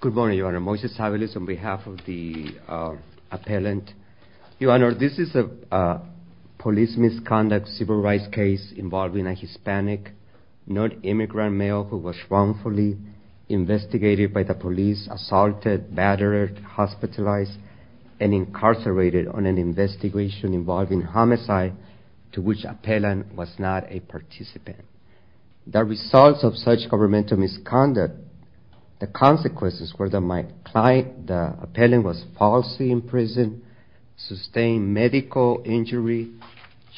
Good morning, Your Honor. Moises Tabeliz on behalf of the appellant. Your Honor, this is a police misconduct civil rights case involving a Hispanic, non-immigrant male who was wrongfully investigated by the police, assaulted, battered, hospitalized, and incarcerated on an investigation involving homicide to which the appellant was not a participant. The results of such governmental misconduct, the consequences were that my client, the appellant, was falsely imprisoned, sustained medical injury,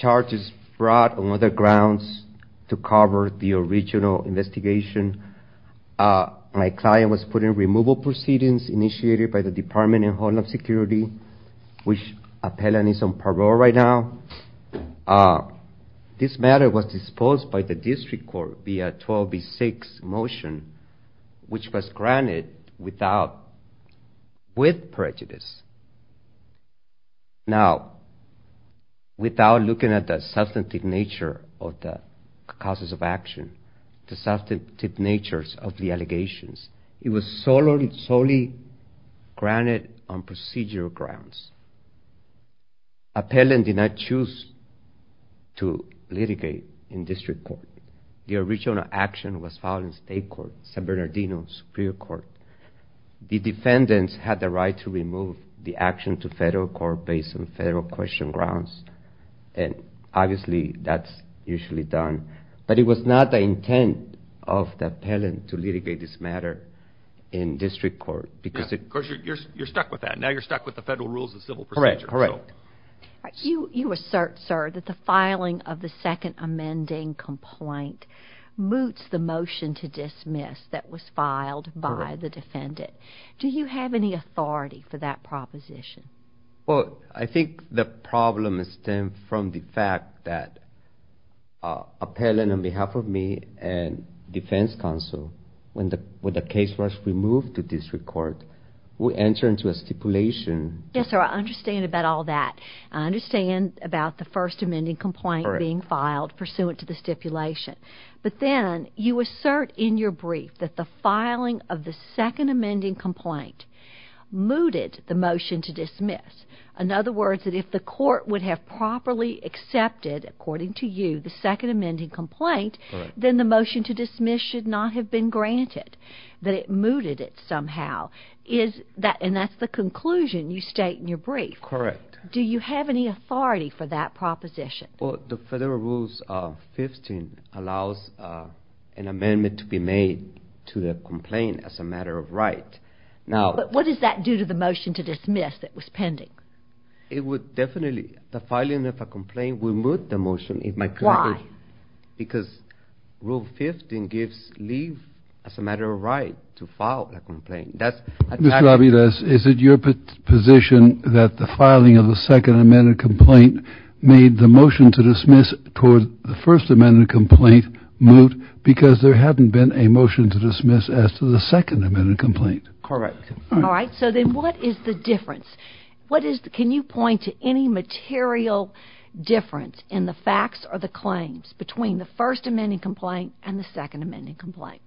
charges brought on other grounds to cover the original investigation. My client was put in removal proceedings initiated by the Department and parole right now. This matter was disposed by the district court via 12B6 motion, which was granted without, with prejudice. Now, without looking at the substantive nature of the causes of action, the substantive natures of the allegations, it was solely granted on procedural grounds. Appellant did not choose to litigate in district court. The original action was filed in state court, San Bernardino Superior Court. The defendants had the right to remove the action to federal court based on federal question grounds, and obviously that's usually done, but it was not the intent of the appellant to litigate this matter in You're stuck with that. Now you're stuck with the federal rules of civil procedure. You assert, sir, that the filing of the second amending complaint moots the motion to dismiss that was filed by the defendant. Do you have any authority for that proposition? I think the problem stemmed from the fact that appellant, on behalf of me and defense counsel, when the case was removed to district court, would enter into a stipulation. Yes, sir, I understand about all that. I understand about the first amending complaint being filed pursuant to the stipulation, but then you assert in your brief that the filing of the second amending complaint mooted the motion to dismiss. In other words, that if the court would have properly accepted, according to you, the second amending complaint, then the motion would not have been granted, that it mooted it somehow. And that's the conclusion you state in your brief. Correct. Do you have any authority for that proposition? Well, the federal rules 15 allows an amendment to be made to the complaint as a matter of right. But what does that do to the motion to dismiss that was pending? It would definitely, the filing of a complaint would moot the motion. Why? Because rule 15 gives leave as a matter of right to file a complaint. Mr. Aviles, is it your position that the filing of the second amending complaint made the motion to dismiss toward the first amending complaint moot because there hadn't been a motion to dismiss as to the second amending complaint? Correct. All right, so then what is the difference? What is, can you point to any material difference in the facts or the claims between the first amending complaint and the second amending complaint?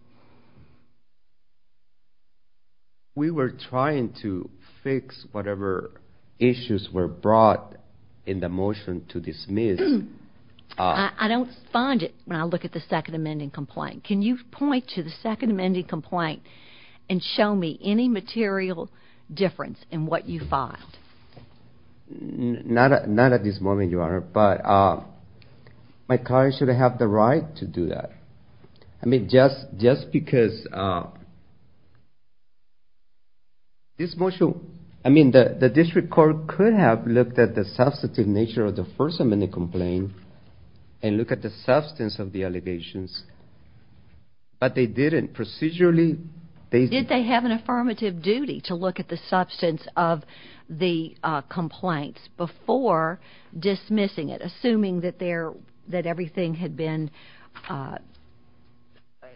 We were trying to fix whatever issues were brought in the motion to dismiss. I don't find it when I look at the second amending complaint. Can you point to the second amending complaint and show me any material difference in what you filed? Not at this moment, Your Honor, but my client should have the right to do that. I mean, just because this motion, I mean, the district court could have looked at the substantive nature of the first amending complaint and look at the substance of the allegations, but they didn't procedurally. Did they have an affirmative duty to look at the substance of the complaints before dismissing it, assuming that everything had been,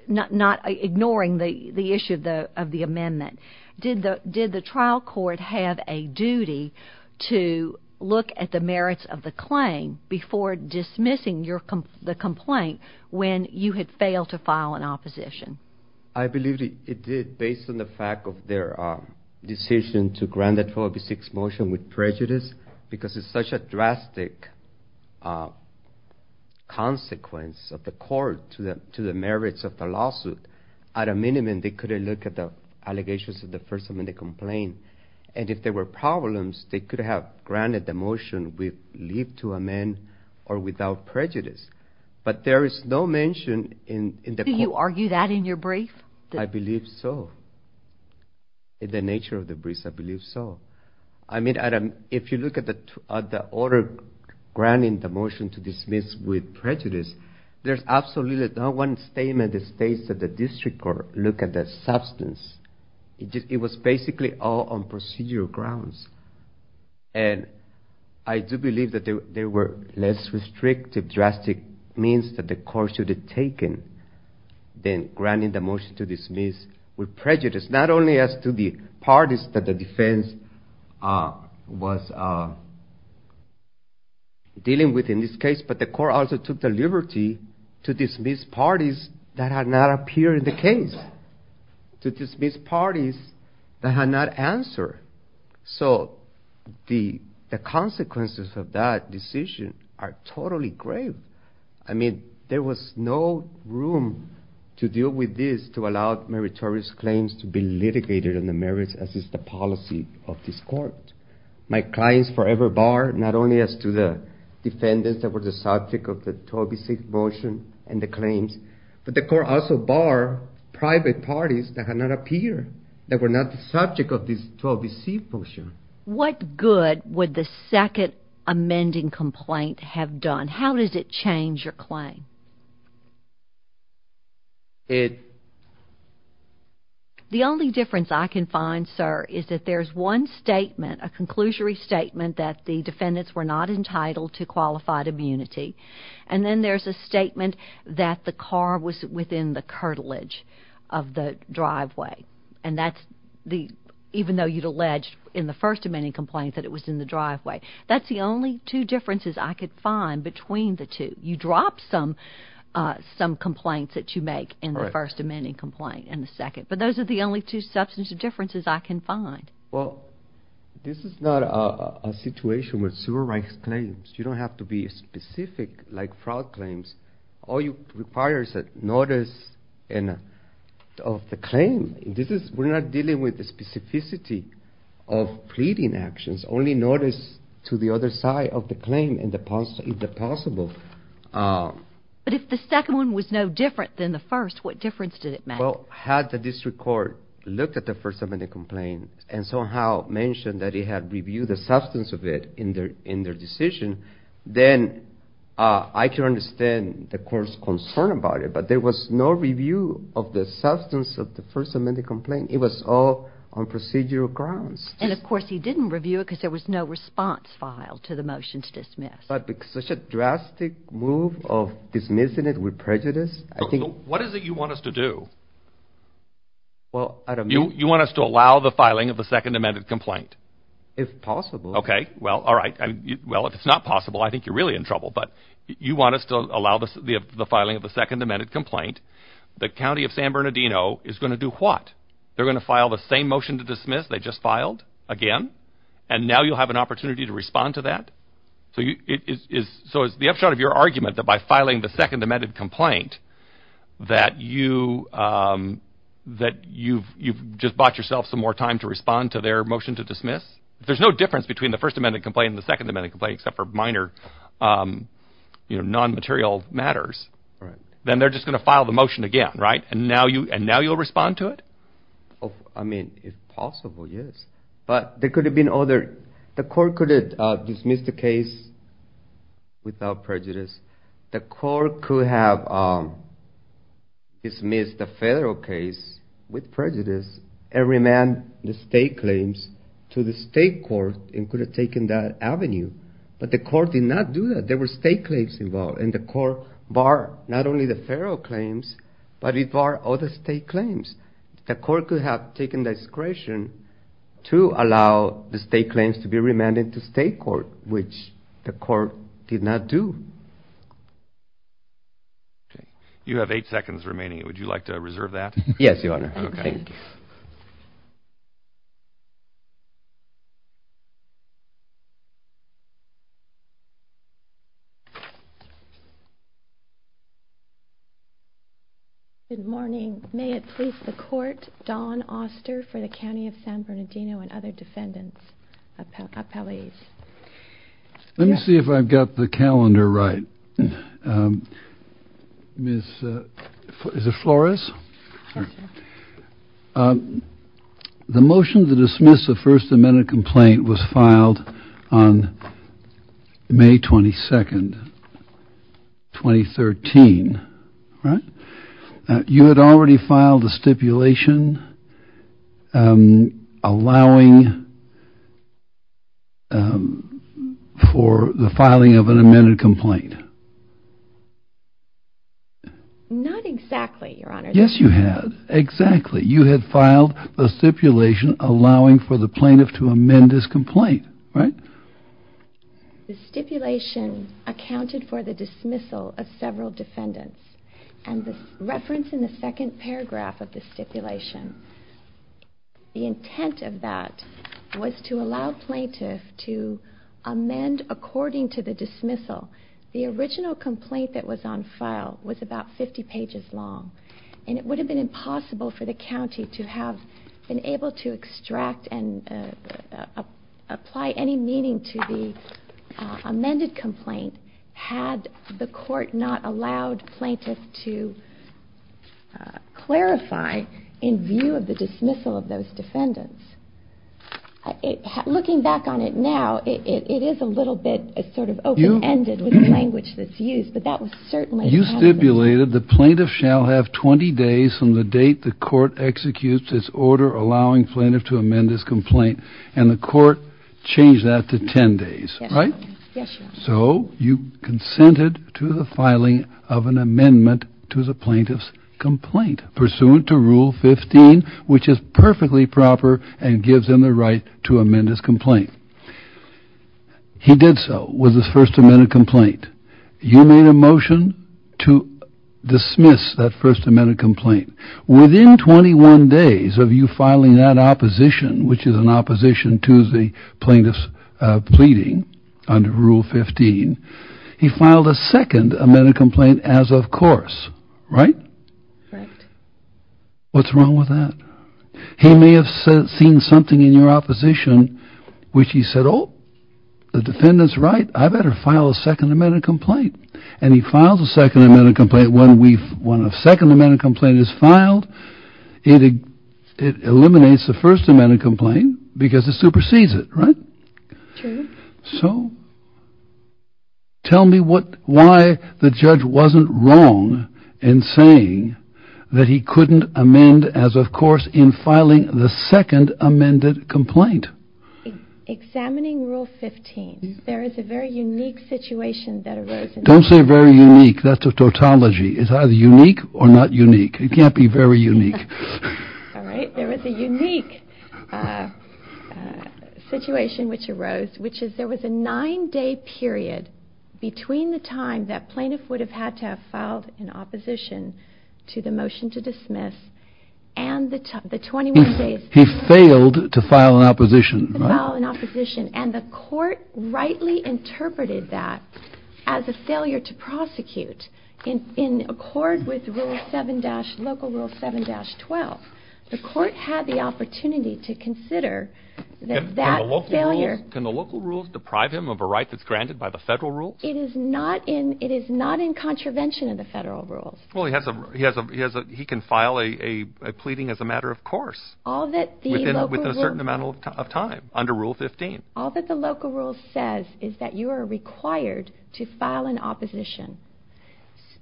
not ignoring the issue of the amendment? Did the trial court have a duty to look at the merits of the claim before dismissing the complaint when you had failed to file an opposition? I believe it did, based on the fact of their decision to grant the 1286 motion with prejudice, because it's such a drastic consequence of the court to the merits of the lawsuit. At a minimum, they couldn't look at the allegations of the first amending complaint. And if there were problems, they could have granted the motion with leave to amend or without prejudice. But there is no mention in the court. Do you argue that in your brief? I believe so. In the nature of the brief, I believe so. I mean, if you look at the order granting the motion to dismiss with prejudice, there's absolutely not one statement that states that the district court looked at the substance. It was basically all on procedural grounds. And I do believe that there were less restrictive drastic means that the court should have taken than granting the motion to dismiss with prejudice, not only as to the parties that the defense was dealing with in this case, but the court also took the liberty to dismiss parties that had not appeared in the case, to dismiss parties that had not answered. So the consequences of that decision are totally grave. I mean, there was no room to deal with this to allow meritorious claims to be litigated in the merits as is the policy of this court. My clients forever bar not only as to the defendants that were the subject of the 12B6 motion and the claims, but the court also bar private parties that had not appeared, that were not the subject of this 12B6 motion. What good would the second amending complaint have done? How does it change your claim? The only difference I can find, sir, is that there's one statement, a conclusory statement that the defendants were not entitled to qualified immunity, and then there's a statement that the car was within the curtilage of the driveway, and that's the, even though you'd alleged in the first amending complaint that it was in the driveway. That's the only two differences I could find between the two. You drop some complaints that you make in the first amending complaint and the second, but those are the only two substantive differences I can find. Well, this is not a situation with civil rights claims. You don't have to be specific like fraud claims. All you require is a notice of the claim. We're not dealing with the specificity of pleading actions, only notice to the other side of the claim if possible. But if the second one was no different than the first, what difference did it make? Well, had the district court looked at the first amending complaint and somehow mentioned that it had reviewed the substance of it in their decision, then I can understand the court's concern about it, but there was no review of the substance of the first amending complaint. It was all on procedural grounds. And, of course, he didn't review it because there was no response file to the motion to dismiss. But such a drastic move of dismissing it with prejudice, I think. What is it you want us to do? You want us to allow the filing of the second amended complaint? If possible. Okay. Well, all right. Well, if it's not possible, I think you're really in trouble. But you want us to allow the filing of the second amended complaint. The county of San Bernardino is going to do what? They're going to file the same motion to dismiss they just filed again, and now you'll have an opportunity to respond to that? So is the upshot of your argument that by filing the second amended complaint that you've just bought yourself some more time to respond to their motion to dismiss? If there's no difference between the first amended complaint and the second amended complaint, except for minor non-material matters, then they're just going to file the motion again, right? And now you'll respond to it? I mean, if possible, yes. But there could have been other. The court could have dismissed the case without prejudice. The court could have dismissed the federal case with prejudice and remanded the state claims to the state court and could have taken that avenue. But the court did not do that. There were state claims involved, and the court barred not only the federal claims, but it barred all the state claims. The court could have taken discretion to allow the state claims to be remanded to state court, which the court did not do. You have eight seconds remaining. Would you like to reserve that? Yes, Your Honor. Okay. Good morning. May it please the Court, Don Auster for the County of San Bernardino and other defendants, appellees. Let me see if I've got the calendar right. Ms. Flores? The motion to dismiss the first amended complaint was filed on May 22nd, 2013. You had already filed a stipulation allowing for the filing of an amended complaint. Not exactly, Your Honor. Yes, you had. Exactly. You had filed a stipulation allowing for the plaintiff to amend his complaint, right? The stipulation accounted for the dismissal of several defendants, and the reference in the second paragraph of the stipulation, the intent of that was to allow plaintiff to amend according to the dismissal. The original complaint that was on file was about 50 pages long, and it would have been impossible for the county to have been able to extract and apply any meaning to the amended complaint had the court not allowed plaintiff to clarify in view of the dismissal of those defendants. Looking back on it now, it is a little bit sort of open-ended with the language that's used, but that was certainly part of it. You stipulated the plaintiff shall have 20 days from the date the court executes its order allowing plaintiff to amend his complaint, and the court changed that to 10 days, right? Yes, Your Honor. So you consented to the filing of an amendment to the plaintiff's complaint, pursuant to Rule 15, which is perfectly proper and gives him the right to amend his complaint. He did so with his first amended complaint. You made a motion to dismiss that first amended complaint. Within 21 days of you filing that opposition, which is an opposition to the plaintiff's pleading under Rule 15, he filed a second amended complaint as of course, right? Right. What's wrong with that? He may have seen something in your opposition which he said, The defendant's right. I better file a second amended complaint. And he files a second amended complaint. When a second amended complaint is filed, it eliminates the first amended complaint because it supersedes it, right? True. So tell me why the judge wasn't wrong in saying that he couldn't amend as of course in filing the second amended complaint. Examining Rule 15, there is a very unique situation that arose. Don't say very unique. That's a tautology. It's either unique or not unique. It can't be very unique. All right. There was a unique situation which arose, which is there was a nine-day period between the time that plaintiff would have had to have filed an opposition to the motion to dismiss and the 21 days. He failed to file an opposition. To file an opposition. And the court rightly interpreted that as a failure to prosecute in accord with Local Rule 7-12. The court had the opportunity to consider that failure. Can the local rules deprive him of a right that's granted by the federal rules? It is not in contravention of the federal rules. Well, he can file a pleading as a matter of course. Within a certain amount of time under Rule 15. All that the local rule says is that you are required to file an opposition.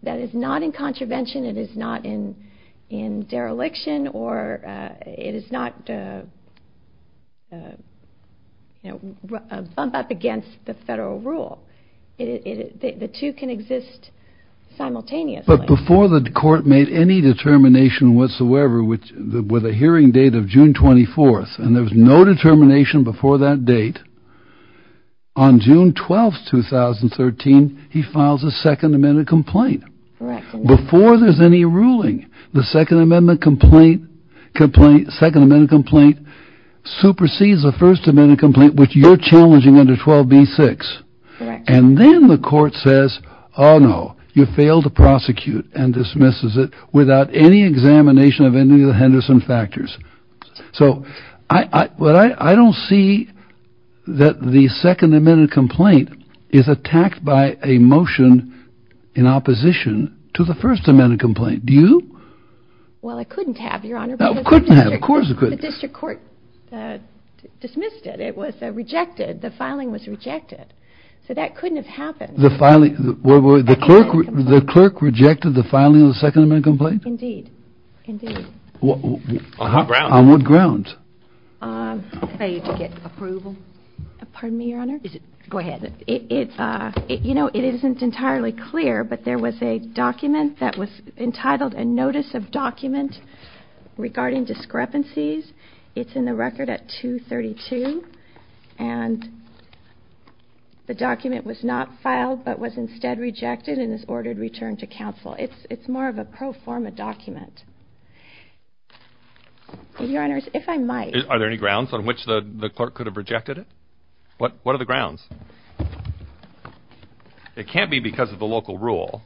That is not in contravention. It is not in dereliction or it is not a bump up against the federal rule. The two can exist simultaneously. But before the court made any determination whatsoever with a hearing date of June 24th. And there was no determination before that date. On June 12th, 2013, he files a Second Amendment complaint. Before there is any ruling. The Second Amendment complaint supersedes the First Amendment complaint which you are challenging under 12b-6. And then the court says, oh no, you failed to prosecute. And dismisses it without any examination of any of the Henderson factors. So, I don't see that the Second Amendment complaint is attacked by a motion in opposition to the First Amendment complaint. Do you? Well, I couldn't have, Your Honor. You couldn't have, of course you couldn't. The district court dismissed it. It was rejected. The filing was rejected. So, that couldn't have happened. The filing. The clerk rejected the filing of the Second Amendment complaint? Indeed. Indeed. On what grounds? To get approval. Pardon me, Your Honor. Go ahead. You know, it isn't entirely clear. But there was a document that was entitled a notice of document regarding discrepancies. It's in the record at 232. And the document was not filed but was instead rejected and is ordered returned to counsel. It's more of a pro forma document. Your Honors, if I might. Are there any grounds on which the clerk could have rejected it? What are the grounds? It can't be because of the local rule.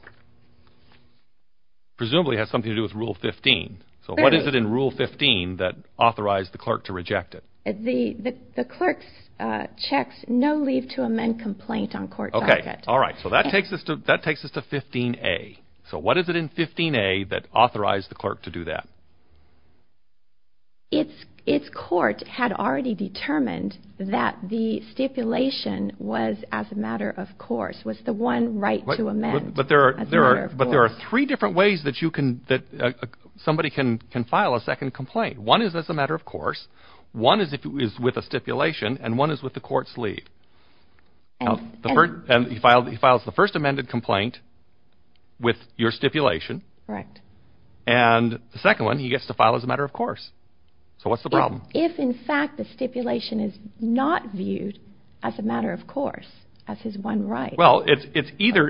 Presumably it has something to do with Rule 15. So, what is it in Rule 15 that authorized the clerk to reject it? The clerk checks no leave to amend complaint on court docket. Okay. All right. So, that takes us to 15A. So, what is it in 15A that authorized the clerk to do that? Its court had already determined that the stipulation was as a matter of course. Was the one right to amend. But there are three different ways that somebody can file a second complaint. One is as a matter of course. One is with a stipulation. And one is with the court's leave. He files the first amended complaint with your stipulation. Correct. And the second one he gets to file as a matter of course. So, what's the problem? If in fact the stipulation is not viewed as a matter of course, as his one right. Well, it's either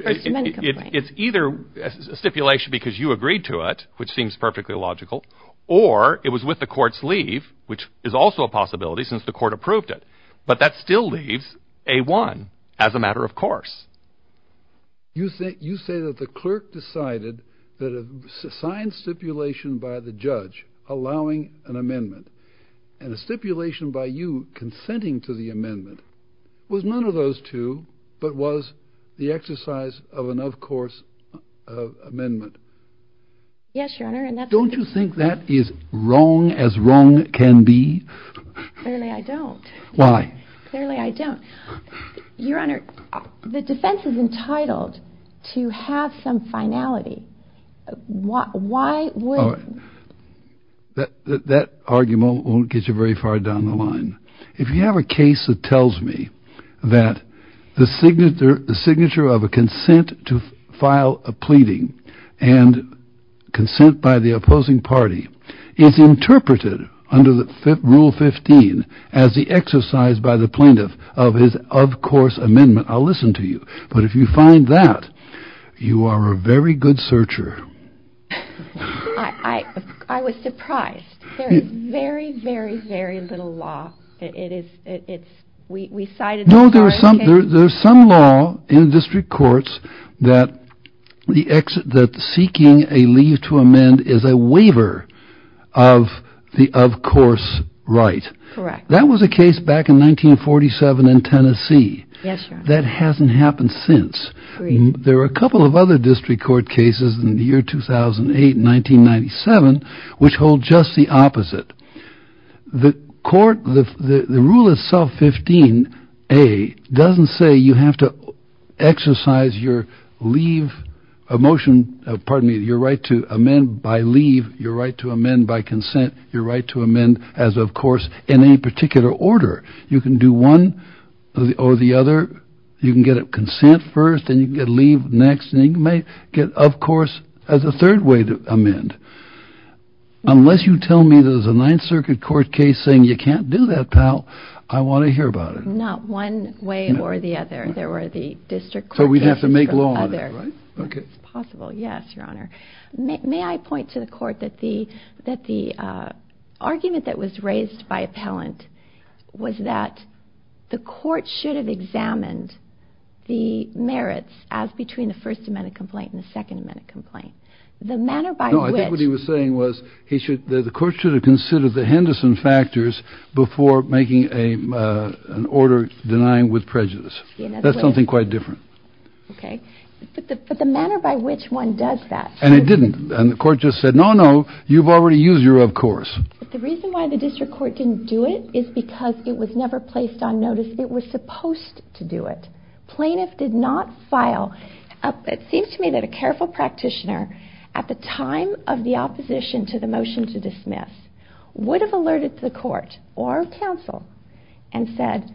a stipulation because you agreed to it, which seems perfectly logical. Or it was with the court's leave, which is also a possibility since the court approved it. But that still leaves a one as a matter of course. You say that the clerk decided that a signed stipulation by the judge allowing an amendment. And a stipulation by you consenting to the amendment was none of those two but was the exercise of an of course amendment. Yes, Your Honor. Don't you think that is wrong as wrong can be? Clearly I don't. Why? Clearly I don't. Your Honor, the defense is entitled to have some finality. Why wouldn't? That argument won't get you very far down the line. If you have a case that tells me that the signature of a consent to file a pleading and consent by the opposing party is interpreted under Rule 15 as the exercise by the plaintiff of his of course amendment, I'll listen to you. But if you find that, you are a very good searcher. I was surprised. There is very, very, very little law. No, there is some law in district courts that seeking a leave to amend is a waiver of the of course right. Correct. That was a case back in 1947 in Tennessee. Yes, Your Honor. That hasn't happened since. There are a couple of other district court cases in the year 2008, 1997, which hold just the opposite. The court, the rule itself, 15A, doesn't say you have to exercise your leave, pardon me, your right to amend by leave, your right to amend by consent, your right to amend as of course in any particular order. You can do one or the other. You can get a consent first, and you can get a leave next, and you can get of course as a third way to amend. Unless you tell me there's a Ninth Circuit court case saying you can't do that, pal, I want to hear about it. Not one way or the other. There were the district court cases for others. So we'd have to make law on that, right? It's possible, yes, Your Honor. May I point to the court that the argument that was raised by appellant was that the court should have examined the merits as between the First Amendment complaint and the Second Amendment complaint. No, I think what he was saying was the court should have considered the Henderson factors before making an order denying with prejudice. That's something quite different. But the manner by which one does that. And it didn't. And the court just said, no, no, you've already used your of course. But the reason why the district court didn't do it is because it was never placed on notice. It was supposed to do it. Plaintiff did not file. It seems to me that a careful practitioner at the time of the opposition to the motion to dismiss would have alerted the court or counsel and said,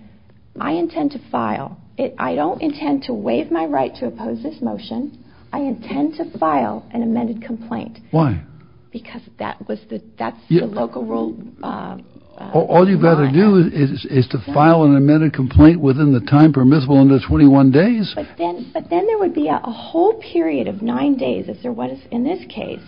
I intend to file. I don't intend to waive my right to oppose this motion. I intend to file an amended complaint. Why? Because that was the local rule. All you've got to do is to file an amended complaint within the time permissible under 21 days. But then there would be a whole period of nine days as there was in this case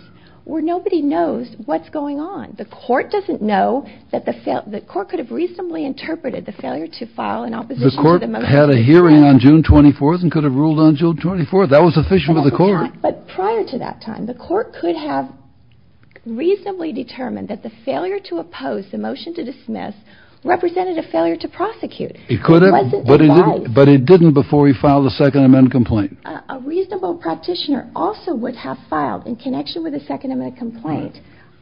where nobody knows what's going on. The court doesn't know that the court could have reasonably interpreted the failure to file an opposition. The court had a hearing on June 24th and could have ruled on June 24th. That was official to the court. But prior to that time, the court could have reasonably determined that the failure to oppose the motion to dismiss represented a failure to prosecute. But it didn't before he filed a second amendment complaint. A reasonable practitioner also would have filed in connection with a second amendment complaint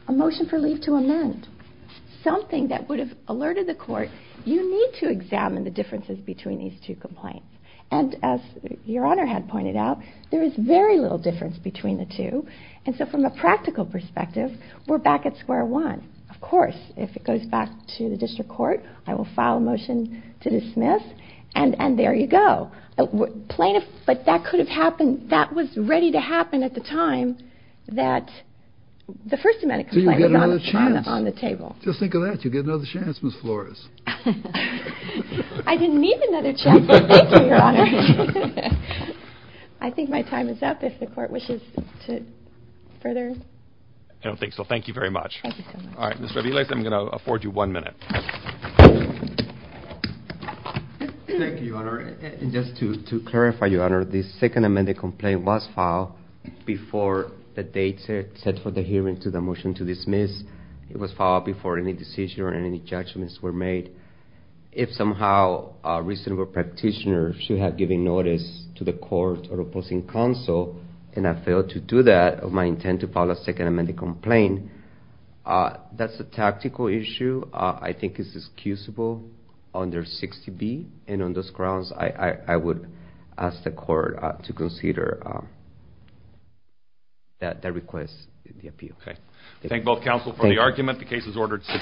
a motion for leave to amend. Something that would have alerted the court. You need to examine the differences between these two complaints. And as Your Honor had pointed out, there is very little difference between the two. And so from a practical perspective, we're back at square one. Of course, if it goes back to the district court, I will file a motion to dismiss. And there you go. But that could have happened. That was ready to happen at the time that the first amendment complaint was on the table. Just think of that. You get another chance, Ms. Flores. I didn't need another chance. Thank you, Your Honor. I think my time is up if the court wishes to further. I don't think so. Thank you very much. All right, Ms. Raviles, I'm going to afford you one minute. Thank you, Your Honor. And just to clarify, Your Honor, the second amendment complaint was filed before the date set for the hearing to the motion to dismiss. It was filed before any decision or any judgments were made. If somehow a reasonable practitioner should have given notice to the court or opposing counsel, and I failed to do that of my intent to file a second amendment complaint, that's a tactical issue. I think it's excusable under 60B. And on those grounds, I would ask the court to consider that request in the appeal. Okay. Thank both counsel for the argument. The case is ordered 60A.